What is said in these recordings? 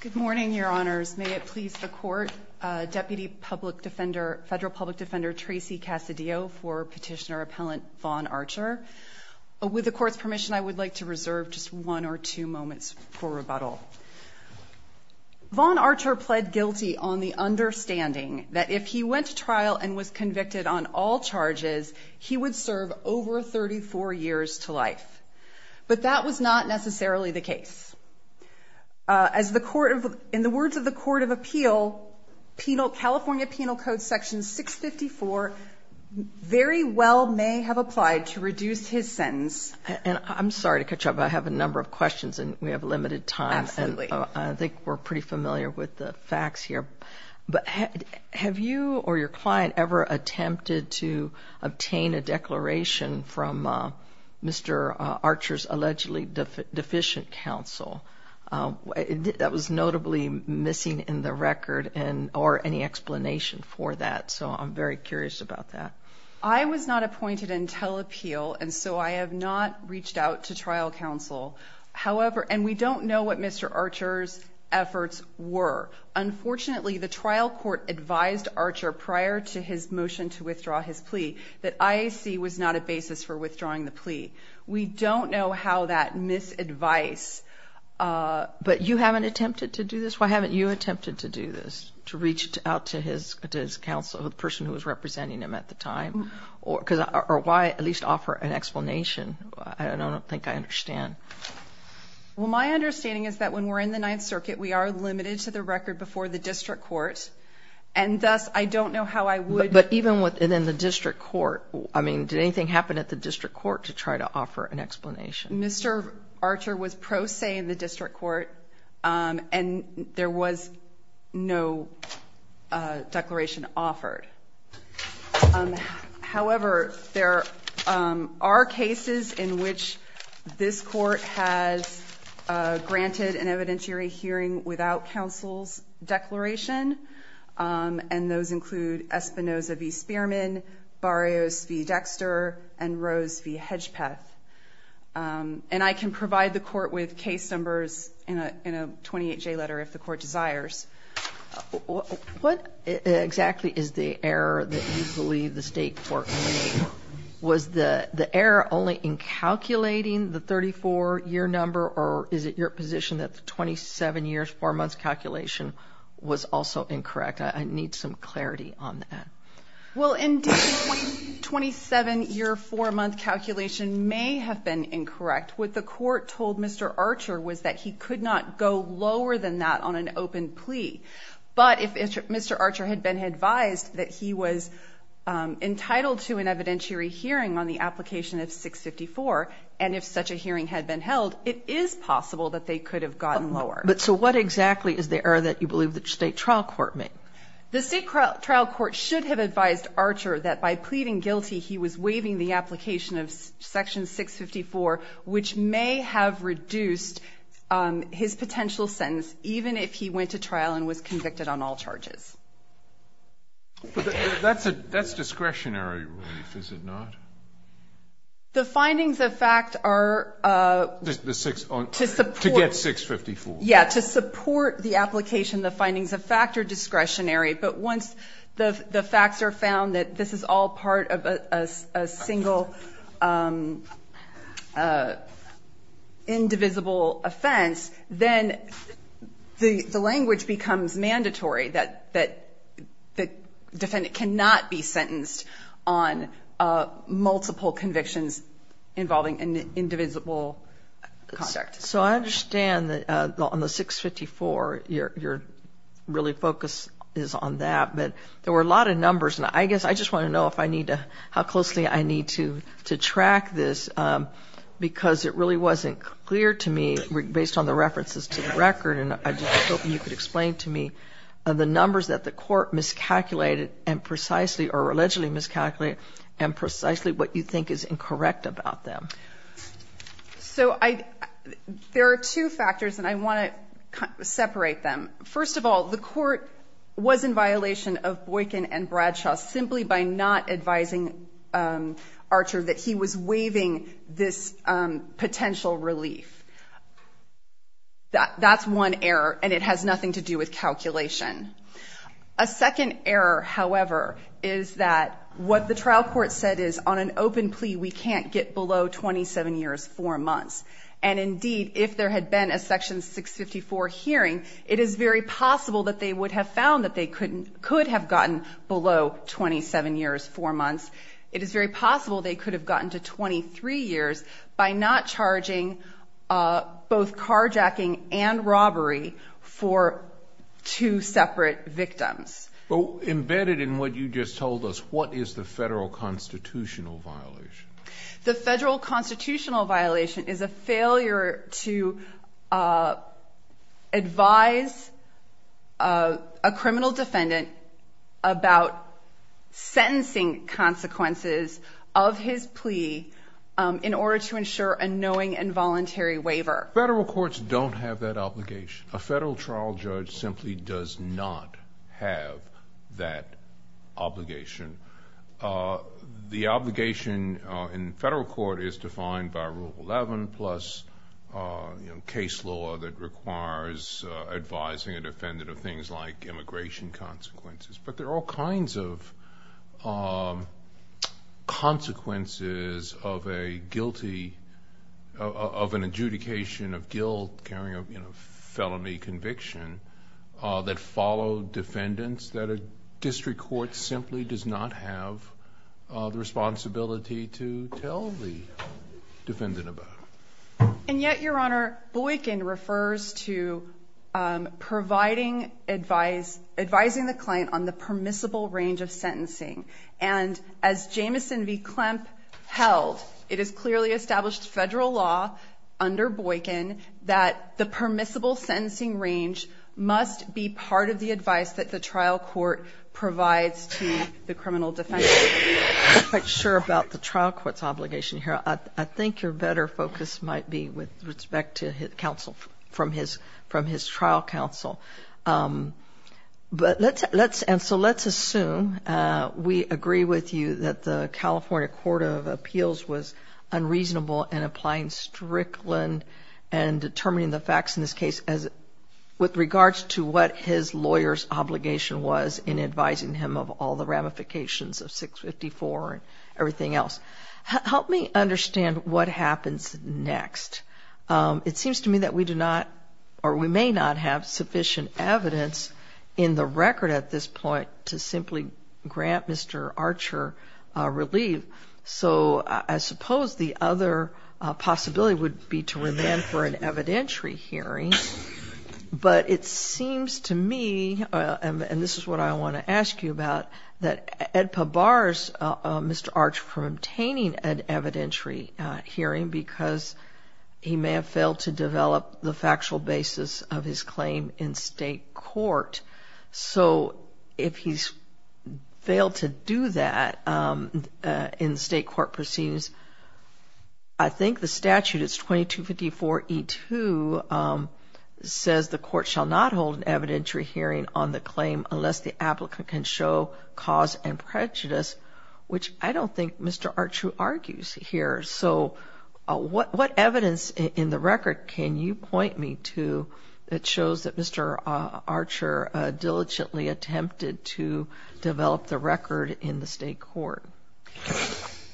Good morning, Your Honors. May it please the Court, Deputy Federal Public Defender Tracy Cassadio for Petitioner Appellant Vaughn Archer. With the Court's permission, I would like to reserve just one or two moments for rebuttal. Vaughn Archer pled guilty on the understanding that if he went to trial and was convicted on all charges, he would serve over 34 years to life. But that was not necessarily the case. In the words of the Court of Appeal, California Penal Code Section 654 very well may have applied to reduce his sentence. I'm sorry to cut you off, but I have a number of questions and we have limited time. I think we're pretty familiar with the facts here. But have you or your client ever attempted to obtain a declaration from Mr. Archer's allegedly deficient counsel? That was notably missing in the record or any explanation for that. So I'm very curious about that. I was not appointed in telepeel, and so I have not reached out to trial counsel. However, and we don't know what Mr. Archer's efforts were. Unfortunately, the trial court advised Archer prior to his motion to withdraw his plea that IAC was not a basis for withdrawing the plea. We don't know how that misadvice. But you haven't attempted to do this? Why haven't you attempted to do this, to reach out to his counsel, the person who was representing him at the time? Or why at least offer an explanation? I don't think I understand. Well my understanding is that when we're in the Ninth Circuit, we are limited to the record before the district court. And thus, I don't know how I would. But even within the district court, I mean, did anything happen at the district court to try to offer an explanation? Mr. Archer was pro se in the district court, and there was no declaration offered. However, there are cases in which this court has granted an evidentiary hearing without counsel's declaration, and those include Espinoza v. Spearman, Barrios v. Dexter, and Rose v. Hedgepeth. And I can provide the court with case numbers in a 28-J letter if the court desires. What exactly is the error that you believe the state court made? Was the error only in the 27-year, 4-month calculation was also incorrect? I need some clarity on that. Well, indeed, the 27-year, 4-month calculation may have been incorrect. What the court told Mr. Archer was that he could not go lower than that on an open plea. But if Mr. Archer had been advised that he was entitled to an evidentiary hearing on the application of 654, and if such a hearing had been held, it is possible that they could have gotten lower. But so what exactly is the error that you believe the state trial court made? The state trial court should have advised Archer that by pleading guilty, he was waiving the application of section 654, which may have reduced his potential sentence, even if he went to trial and was convicted on all charges. But that's discretionary relief, is it not? The findings of fact are to support to get 654. Yes, to support the application, the findings of fact are discretionary. But once the facts are found that this is all part of a single indivisible offense, then the language becomes mandatory that the defendant cannot be sentenced on multiple convictions involving an indivisible conduct. So I understand that on the 654, your really focus is on that. But there were a lot of numbers, and I guess I just want to know if I need to, how closely I need to track this, because it really wasn't clear to me, based on the references to the record, and I just hope you could explain to me the numbers that the court miscalculated and precisely, or allegedly miscalculated and precisely what you think is incorrect about them. So there are two factors, and I want to separate them. First of all, the court was in violation of Boykin and Bradshaw simply by not advising Archer that he was waiving this potential relief. That's one error, and it has nothing to do with calculation. A second error, however, is that what the trial court said is, on an open plea, we can't get below 27 years, 4 months. And indeed, if there had been a Section 654 hearing, it is very possible that they would have found that they could have gotten below 27 years, 4 months. It is very possible they could have gotten to 23 years by not charging both carjacking and robbery for two separate victims. Embedded in what you just told us, what is the federal constitutional violation? The federal constitutional violation is a failure to advise a criminal defendant about sentencing consequences of his plea in order to ensure a knowing and voluntary waiver. Federal courts don't have that obligation. A federal trial judge simply does not have that obligation. The obligation in federal court is defined by Rule 11 plus case law that requires advising a defendant of things like immigration consequences. But there are all kinds of consequences of an adjudication of guilt, carrying a felony conviction, that follow defendants that a district court simply does not have the responsibility to tell the defendant about. And yet, Your Honor, Boykin refers to advising the client on the permissible range of sentencing. And as Jameson v. Klempp held, it is clearly established federal law under Boykin that the permissible sentencing range must be part of the advice that the trial court provides to the criminal defendant. I'm not quite sure about the trial court's obligation here. I think your better focus might be with respect to counsel from his trial counsel. And so let's assume we agree with you that the California Court of Appeals was unreasonable in applying Strickland and determining the facts in this case with regards to what his lawyer's obligation was in advising him of all the ramifications of 654 and everything else. Help me understand what happens next. It seems to me that we do not or we may not have sufficient evidence in the record at this point to simply grant Mr. Archer relief. So I suppose the other possibility would be to remand for an evidentiary hearing. But it seems to me, and this is what I want to ask you about, that EDPA bars Mr. Archer from obtaining an evidentiary hearing because he may have failed to develop the factual basis of his claim in state court. So if he's failed to do that in state court proceedings, I think the statute is 2254E2 says the court shall not hold an evidentiary hearing on the claim unless the applicant can show cause and prejudice, which I don't think Mr. Archer argues here. So what evidence in the record can you point me to that shows that Mr. Archer diligently attempted to develop the record in the state court?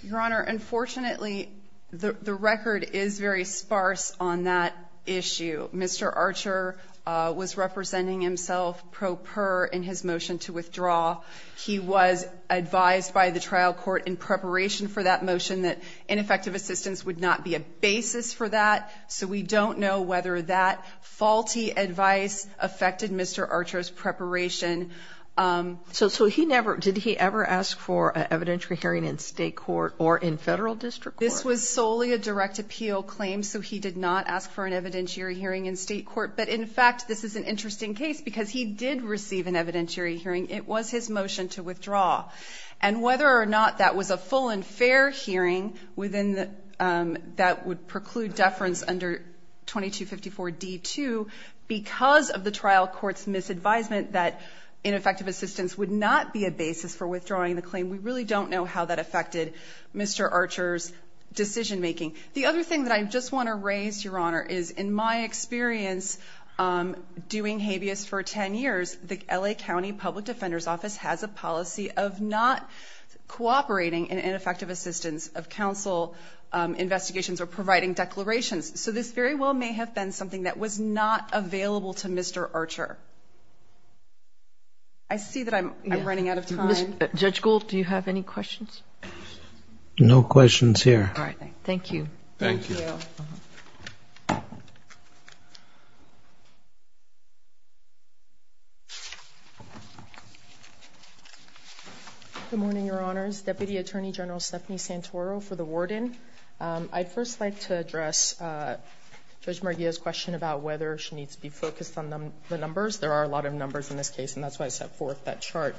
Your Honor, unfortunately, the record is very sparse on that issue. Mr. Archer was representing himself pro per in his motion to withdraw. He was advised by the trial court in preparation for that motion that ineffective assistance would not be a basis for that, so we don't know whether that faulty advice affected Mr. Archer's preparation. So he never, did he ever ask for an evidentiary hearing in state court or in federal district court? This was solely a direct appeal claim, so he did not ask for an evidentiary hearing in state court. But, in fact, this is an interesting case because he did receive an evidentiary hearing. It was his motion to withdraw. And whether or not that was a full and fair hearing that would preclude deference under 2254d-2, because of the trial court's misadvisement that ineffective assistance would not be a basis for withdrawing the claim, we really don't know how that affected Mr. Archer's decision making. The other thing that I just want to raise, Your Honor, is in my experience doing habeas for 10 years, the L.A. County Public Defender's Office has a policy of not cooperating in ineffective assistance of counsel investigations or providing declarations. So this very well may have been something that was not available to Mr. Archer. I see that I'm running out of time. Judge Gould, do you have any questions? No questions here. All right. Thank you. Thank you. Thank you. Good morning, Your Honors. Deputy Attorney General Stephanie Santoro for the warden. I'd first like to address Judge Murguia's question about whether she needs to be focused on the numbers. There are a lot of numbers in this case, and that's why I set forth that chart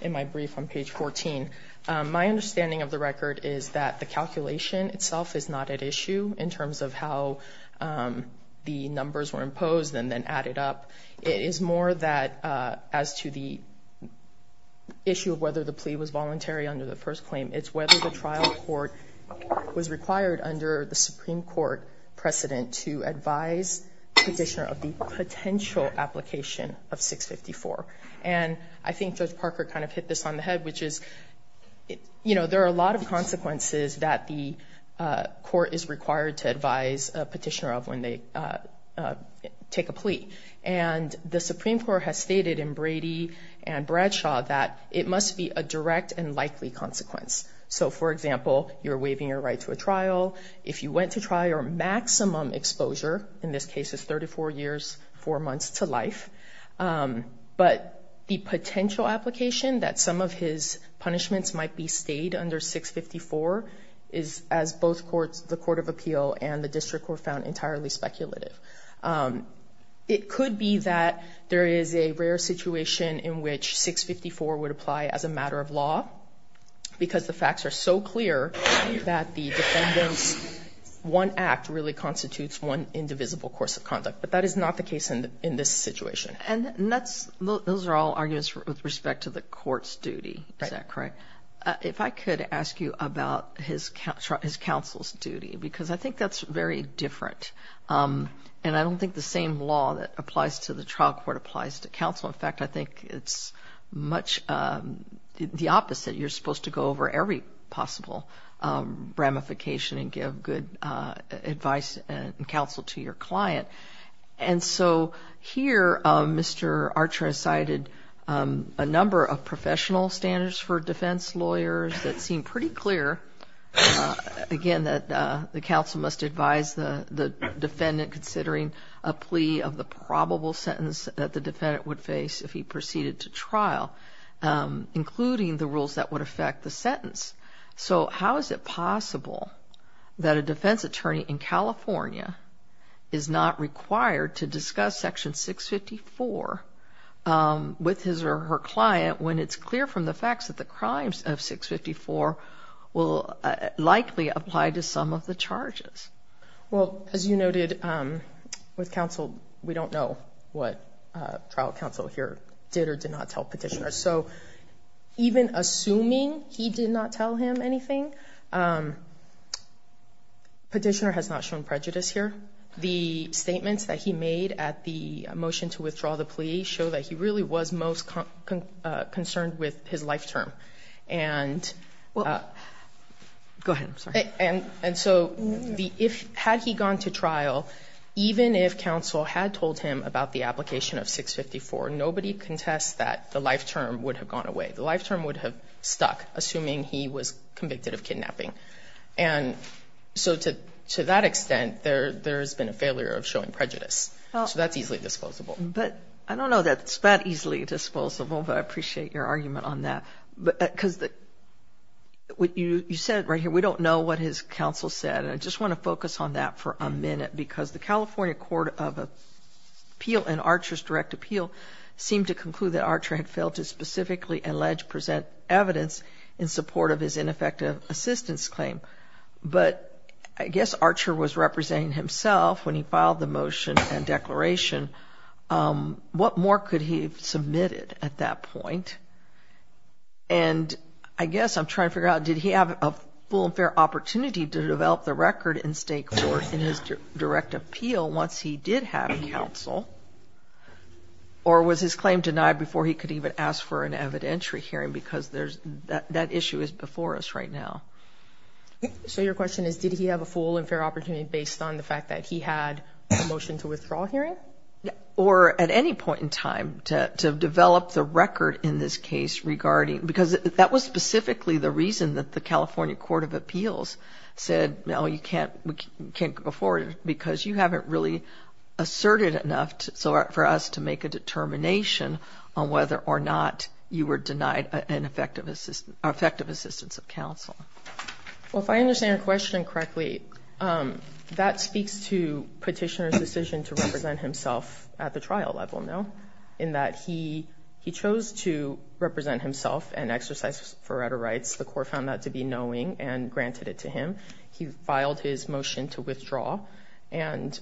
in my brief on page 14. My understanding of the record is that the calculation itself is not at issue in terms of how the numbers were imposed and then added up. It is more that as to the issue of whether the plea was voluntary under the first claim. It's whether the trial court was required under the Supreme Court precedent to advise the petitioner of the potential application of 654. And I think Judge Parker kind of hit this on the head, which is, you know, there are a lot of consequences that the court is required to advise a petitioner of when they take a plea. And the Supreme Court has stated in Brady and Bradshaw that it must be a direct and likely consequence. So, for example, you're waiving your right to a trial. If you went to trial, your maximum exposure in this case is 34 years, four months to life. But the potential application that some of his punishments might be stayed under 654 is, as both courts, the Court of Appeal and the district were found entirely speculative. It could be that there is a rare situation in which 654 would apply as a matter of law, because the facts are so clear that the defendant's one act really constitutes one indivisible course of conduct. But that is not the case in this situation. And those are all arguments with respect to the court's duty. Is that correct? If I could ask you about his counsel's duty, because I think that's very different. And I don't think the same law that applies to the trial court applies to counsel. In fact, I think it's much the opposite. You're supposed to go over every possible ramification and give good advice and counsel to your client. And so here, Mr. Archer cited a number of professional standards for defense lawyers that seem pretty clear. Again, the counsel must advise the defendant, considering a plea of the probable sentence that the defendant would face if he proceeded to trial, including the rules that would affect the sentence. So how is it possible that a defense attorney in California is not required to discuss Section 654 with his or her client when it's clear from the facts that the crimes of 654 will likely apply to some of the charges? Well, as you noted, with counsel, we don't know what trial counsel here did or did not tell Petitioner. So even assuming he did not tell him anything, Petitioner has not shown prejudice here. The statements that he made at the motion to withdraw the plea show that he really was most concerned with his life term. And so had he gone to trial, even if counsel had told him about the application of 654, nobody contests that the life term would have gone away. The life term would have stuck, assuming he was convicted of kidnapping. And so to that extent, there has been a failure of showing prejudice. So that's easily disposable. But I don't know that it's that easily disposable, but I appreciate your argument on that. Because what you said right here, we don't know what his counsel said. And I just want to focus on that for a minute because the California Court of Appeal and Archer's direct appeal seemed to conclude that Archer had failed to specifically allege present evidence in support of his ineffective assistance claim. But I guess Archer was representing himself when he filed the motion and declaration. What more could he have submitted at that point? And I guess I'm trying to figure out, did he have a full and fair opportunity to develop the record in state court in his direct appeal once he did have counsel? Or was his claim denied before he could even ask for an evidentiary hearing? Because that issue is before us right now. So your question is, did he have a full and fair opportunity based on the fact that he had a motion to withdraw hearing? Or at any point in time to develop the record in this case regarding, because that was specifically the reason that the California Court of Appeals said, no, you can't go forward because you haven't really asserted enough for us to make a determination on whether or not you were denied an effective assistance of counsel. Well, if I understand your question correctly, that speaks to petitioner's decision to represent himself at the trial level, no? In that he chose to represent himself and exercise his right of rights. The court found that to be knowing and granted it to him. He filed his motion to withdraw. And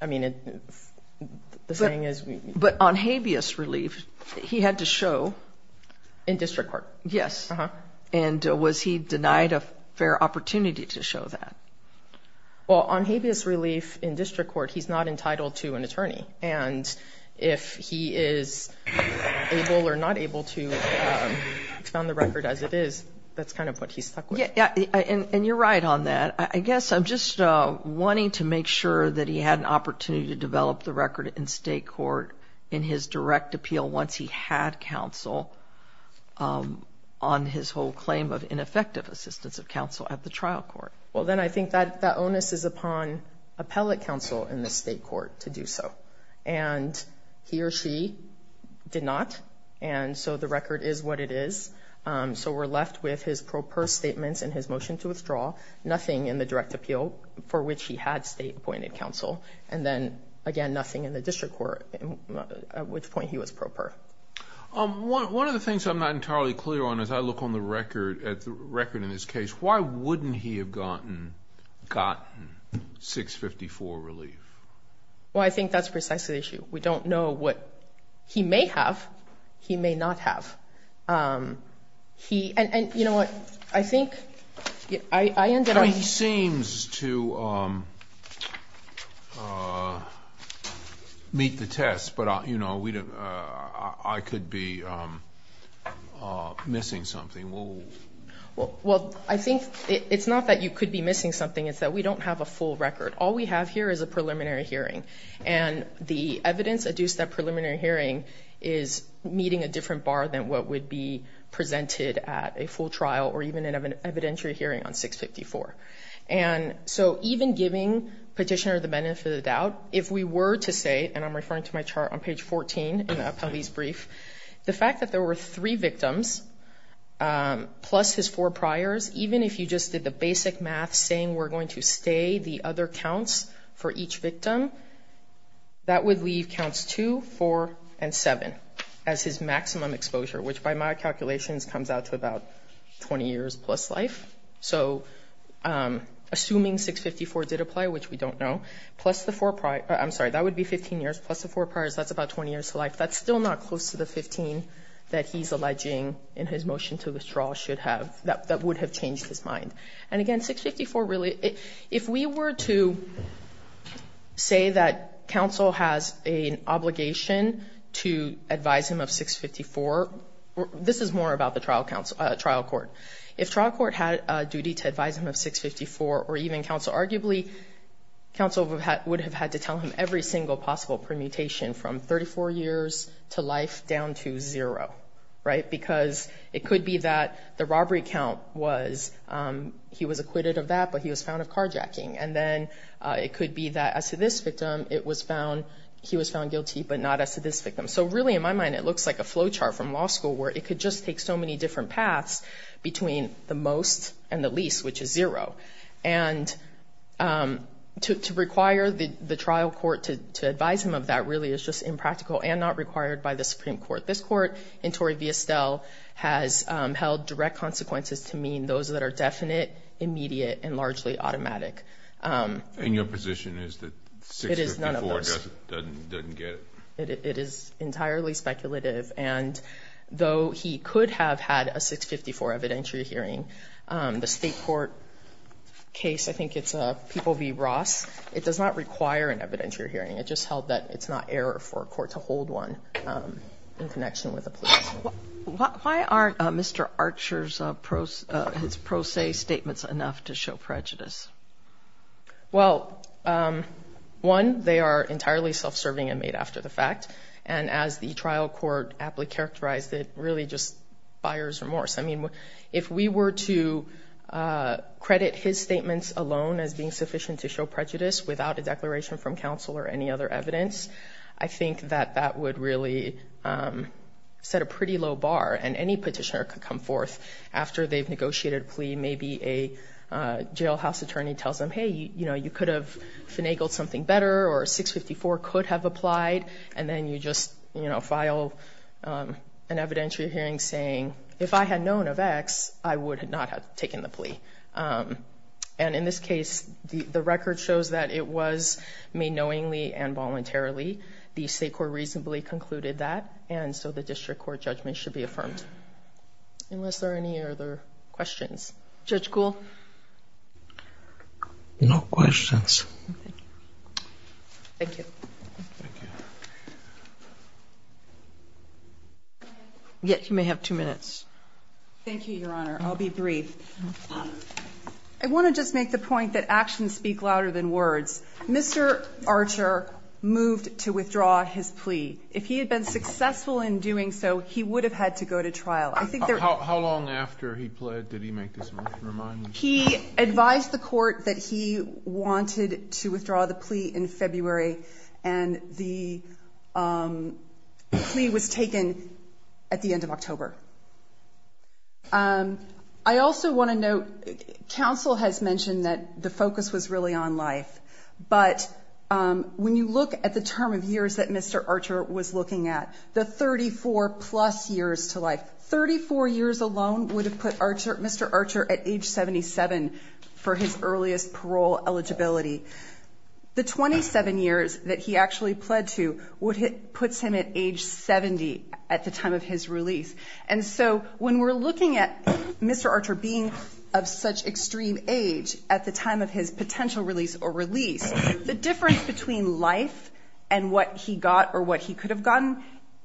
I mean, the thing is. But on habeas relief, he had to show. In district court. Yes. And was he denied a fair opportunity to show that? Well, on habeas relief in district court, he's not entitled to an attorney. And if he is able or not able to found the record as it is, that's kind of what he's stuck with. Yeah. And you're right on that. I guess I'm just wanting to make sure that he had an opportunity to develop the record in state court in his direct appeal. Once he had counsel on his whole claim of ineffective assistance of counsel at the trial court. Well, then I think that that onus is upon appellate counsel in the state court to do so. And he or she did not. And so the record is what it is. So we're left with his pro per statements and his motion to withdraw. Nothing in the direct appeal for which he had state appointed counsel. And then, again, nothing in the district court at which point he was proper. One of the things I'm not entirely clear on is I look on the record at the record in this case. Why wouldn't he have gotten gotten 654 relief? Well, I think that's precisely the issue. We don't know what he may have. He may not have. And you know what? I think I ended up. He seems to meet the test. But, you know, I could be missing something. Well, I think it's not that you could be missing something. It's that we don't have a full record. All we have here is a preliminary hearing. And the evidence adduced at preliminary hearing is meeting a different bar than what would be presented at a full trial or even an evidentiary hearing on 654. And so even giving petitioner the benefit of the doubt, if we were to say, and I'm referring to my chart on page 14 in Appellee's brief, the fact that there were three victims plus his four priors, even if you just did the basic math saying we're going to stay the other counts for each victim, that would leave counts 2, 4, and 7 as his maximum exposure, which by my calculations comes out to about 20 years plus life. So assuming 654 did apply, which we don't know, plus the four priors. I'm sorry, that would be 15 years plus the four priors. That's about 20 years to life. That's still not close to the 15 that he's alleging in his motion to withdraw should have, that would have changed his mind. And again, 654 really, if we were to say that counsel has an obligation to advise him of 654, this is more about the trial court. If trial court had a duty to advise him of 654 or even counsel, would have had to tell him every single possible permutation from 34 years to life down to zero. Right. Because it could be that the robbery count was he was acquitted of that, but he was found of carjacking. And then it could be that as to this victim, it was found he was found guilty, but not as to this victim. So really, in my mind, it looks like a flowchart from law school where it could just take so many different paths between the most and the least, which is zero. And to require the trial court to advise him of that really is just impractical and not required by the Supreme Court. This court in Torrey v. Estelle has held direct consequences to mean those that are definite, immediate and largely automatic. And your position is that 654 doesn't get it. It is entirely speculative. And though he could have had a 654 evidentiary hearing, the state court case, I think it's People v. Ross, it does not require an evidentiary hearing. It just held that it's not error for a court to hold one in connection with the police. Why aren't Mr. Archer's pro se statements enough to show prejudice? Well, one, they are entirely self-serving and made after the fact. And as the trial court aptly characterized it, really just buyer's remorse. I mean, if we were to credit his statements alone as being sufficient to show prejudice without a declaration from counsel or any other evidence, I think that that would really set a pretty low bar and any petitioner could come forth after they've negotiated a plea. Maybe a jailhouse attorney tells them, hey, you know, you could have finagled something better or 654 could have applied. And then you just file an evidentiary hearing saying, if I had known of X, I would not have taken the plea. And in this case, the record shows that it was made knowingly and voluntarily. The state court reasonably concluded that. And so the district court judgment should be affirmed. Unless there are any other questions. Judge Kuhl? No questions. Thank you. Thank you. You may have two minutes. Thank you, Your Honor. I'll be brief. I want to just make the point that actions speak louder than words. Mr. Archer moved to withdraw his plea. If he had been successful in doing so, he would have had to go to trial. How long after he pled did he make this remand? He advised the court that he wanted to withdraw the plea in February. And the plea was taken at the end of October. I also want to note, counsel has mentioned that the focus was really on life. But when you look at the term of years that Mr. Archer was looking at, the 34 plus years to life, 34 years alone would have put Mr. Archer at age 77 for his earliest parole eligibility. The 27 years that he actually pled to puts him at age 70 at the time of his release. And so when we're looking at Mr. Archer being of such extreme age at the time of his potential release or release, the difference between life and what he got or what he could have gotten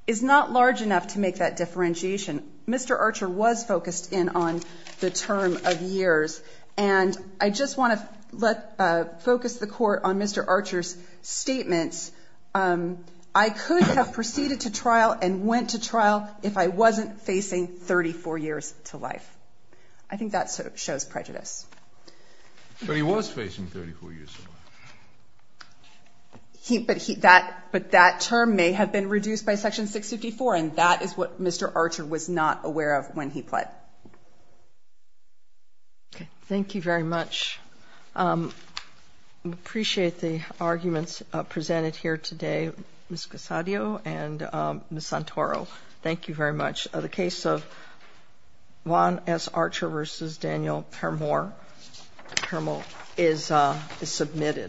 is not large enough to make that differentiation. Mr. Archer was focused in on the term of years. And I just want to focus the court on Mr. Archer's statements. I could have proceeded to trial and went to trial if I wasn't facing 34 years to life. I think that shows prejudice. But he was facing 34 years to life. But that term may have been reduced by Section 654, and that is what Mr. Archer was not aware of when he pled. Okay. Thank you very much. I appreciate the arguments presented here today, Ms. Casadio and Ms. Santoro. Thank you very much. The case of Juan S. Archer v. Daniel Permore is submitted.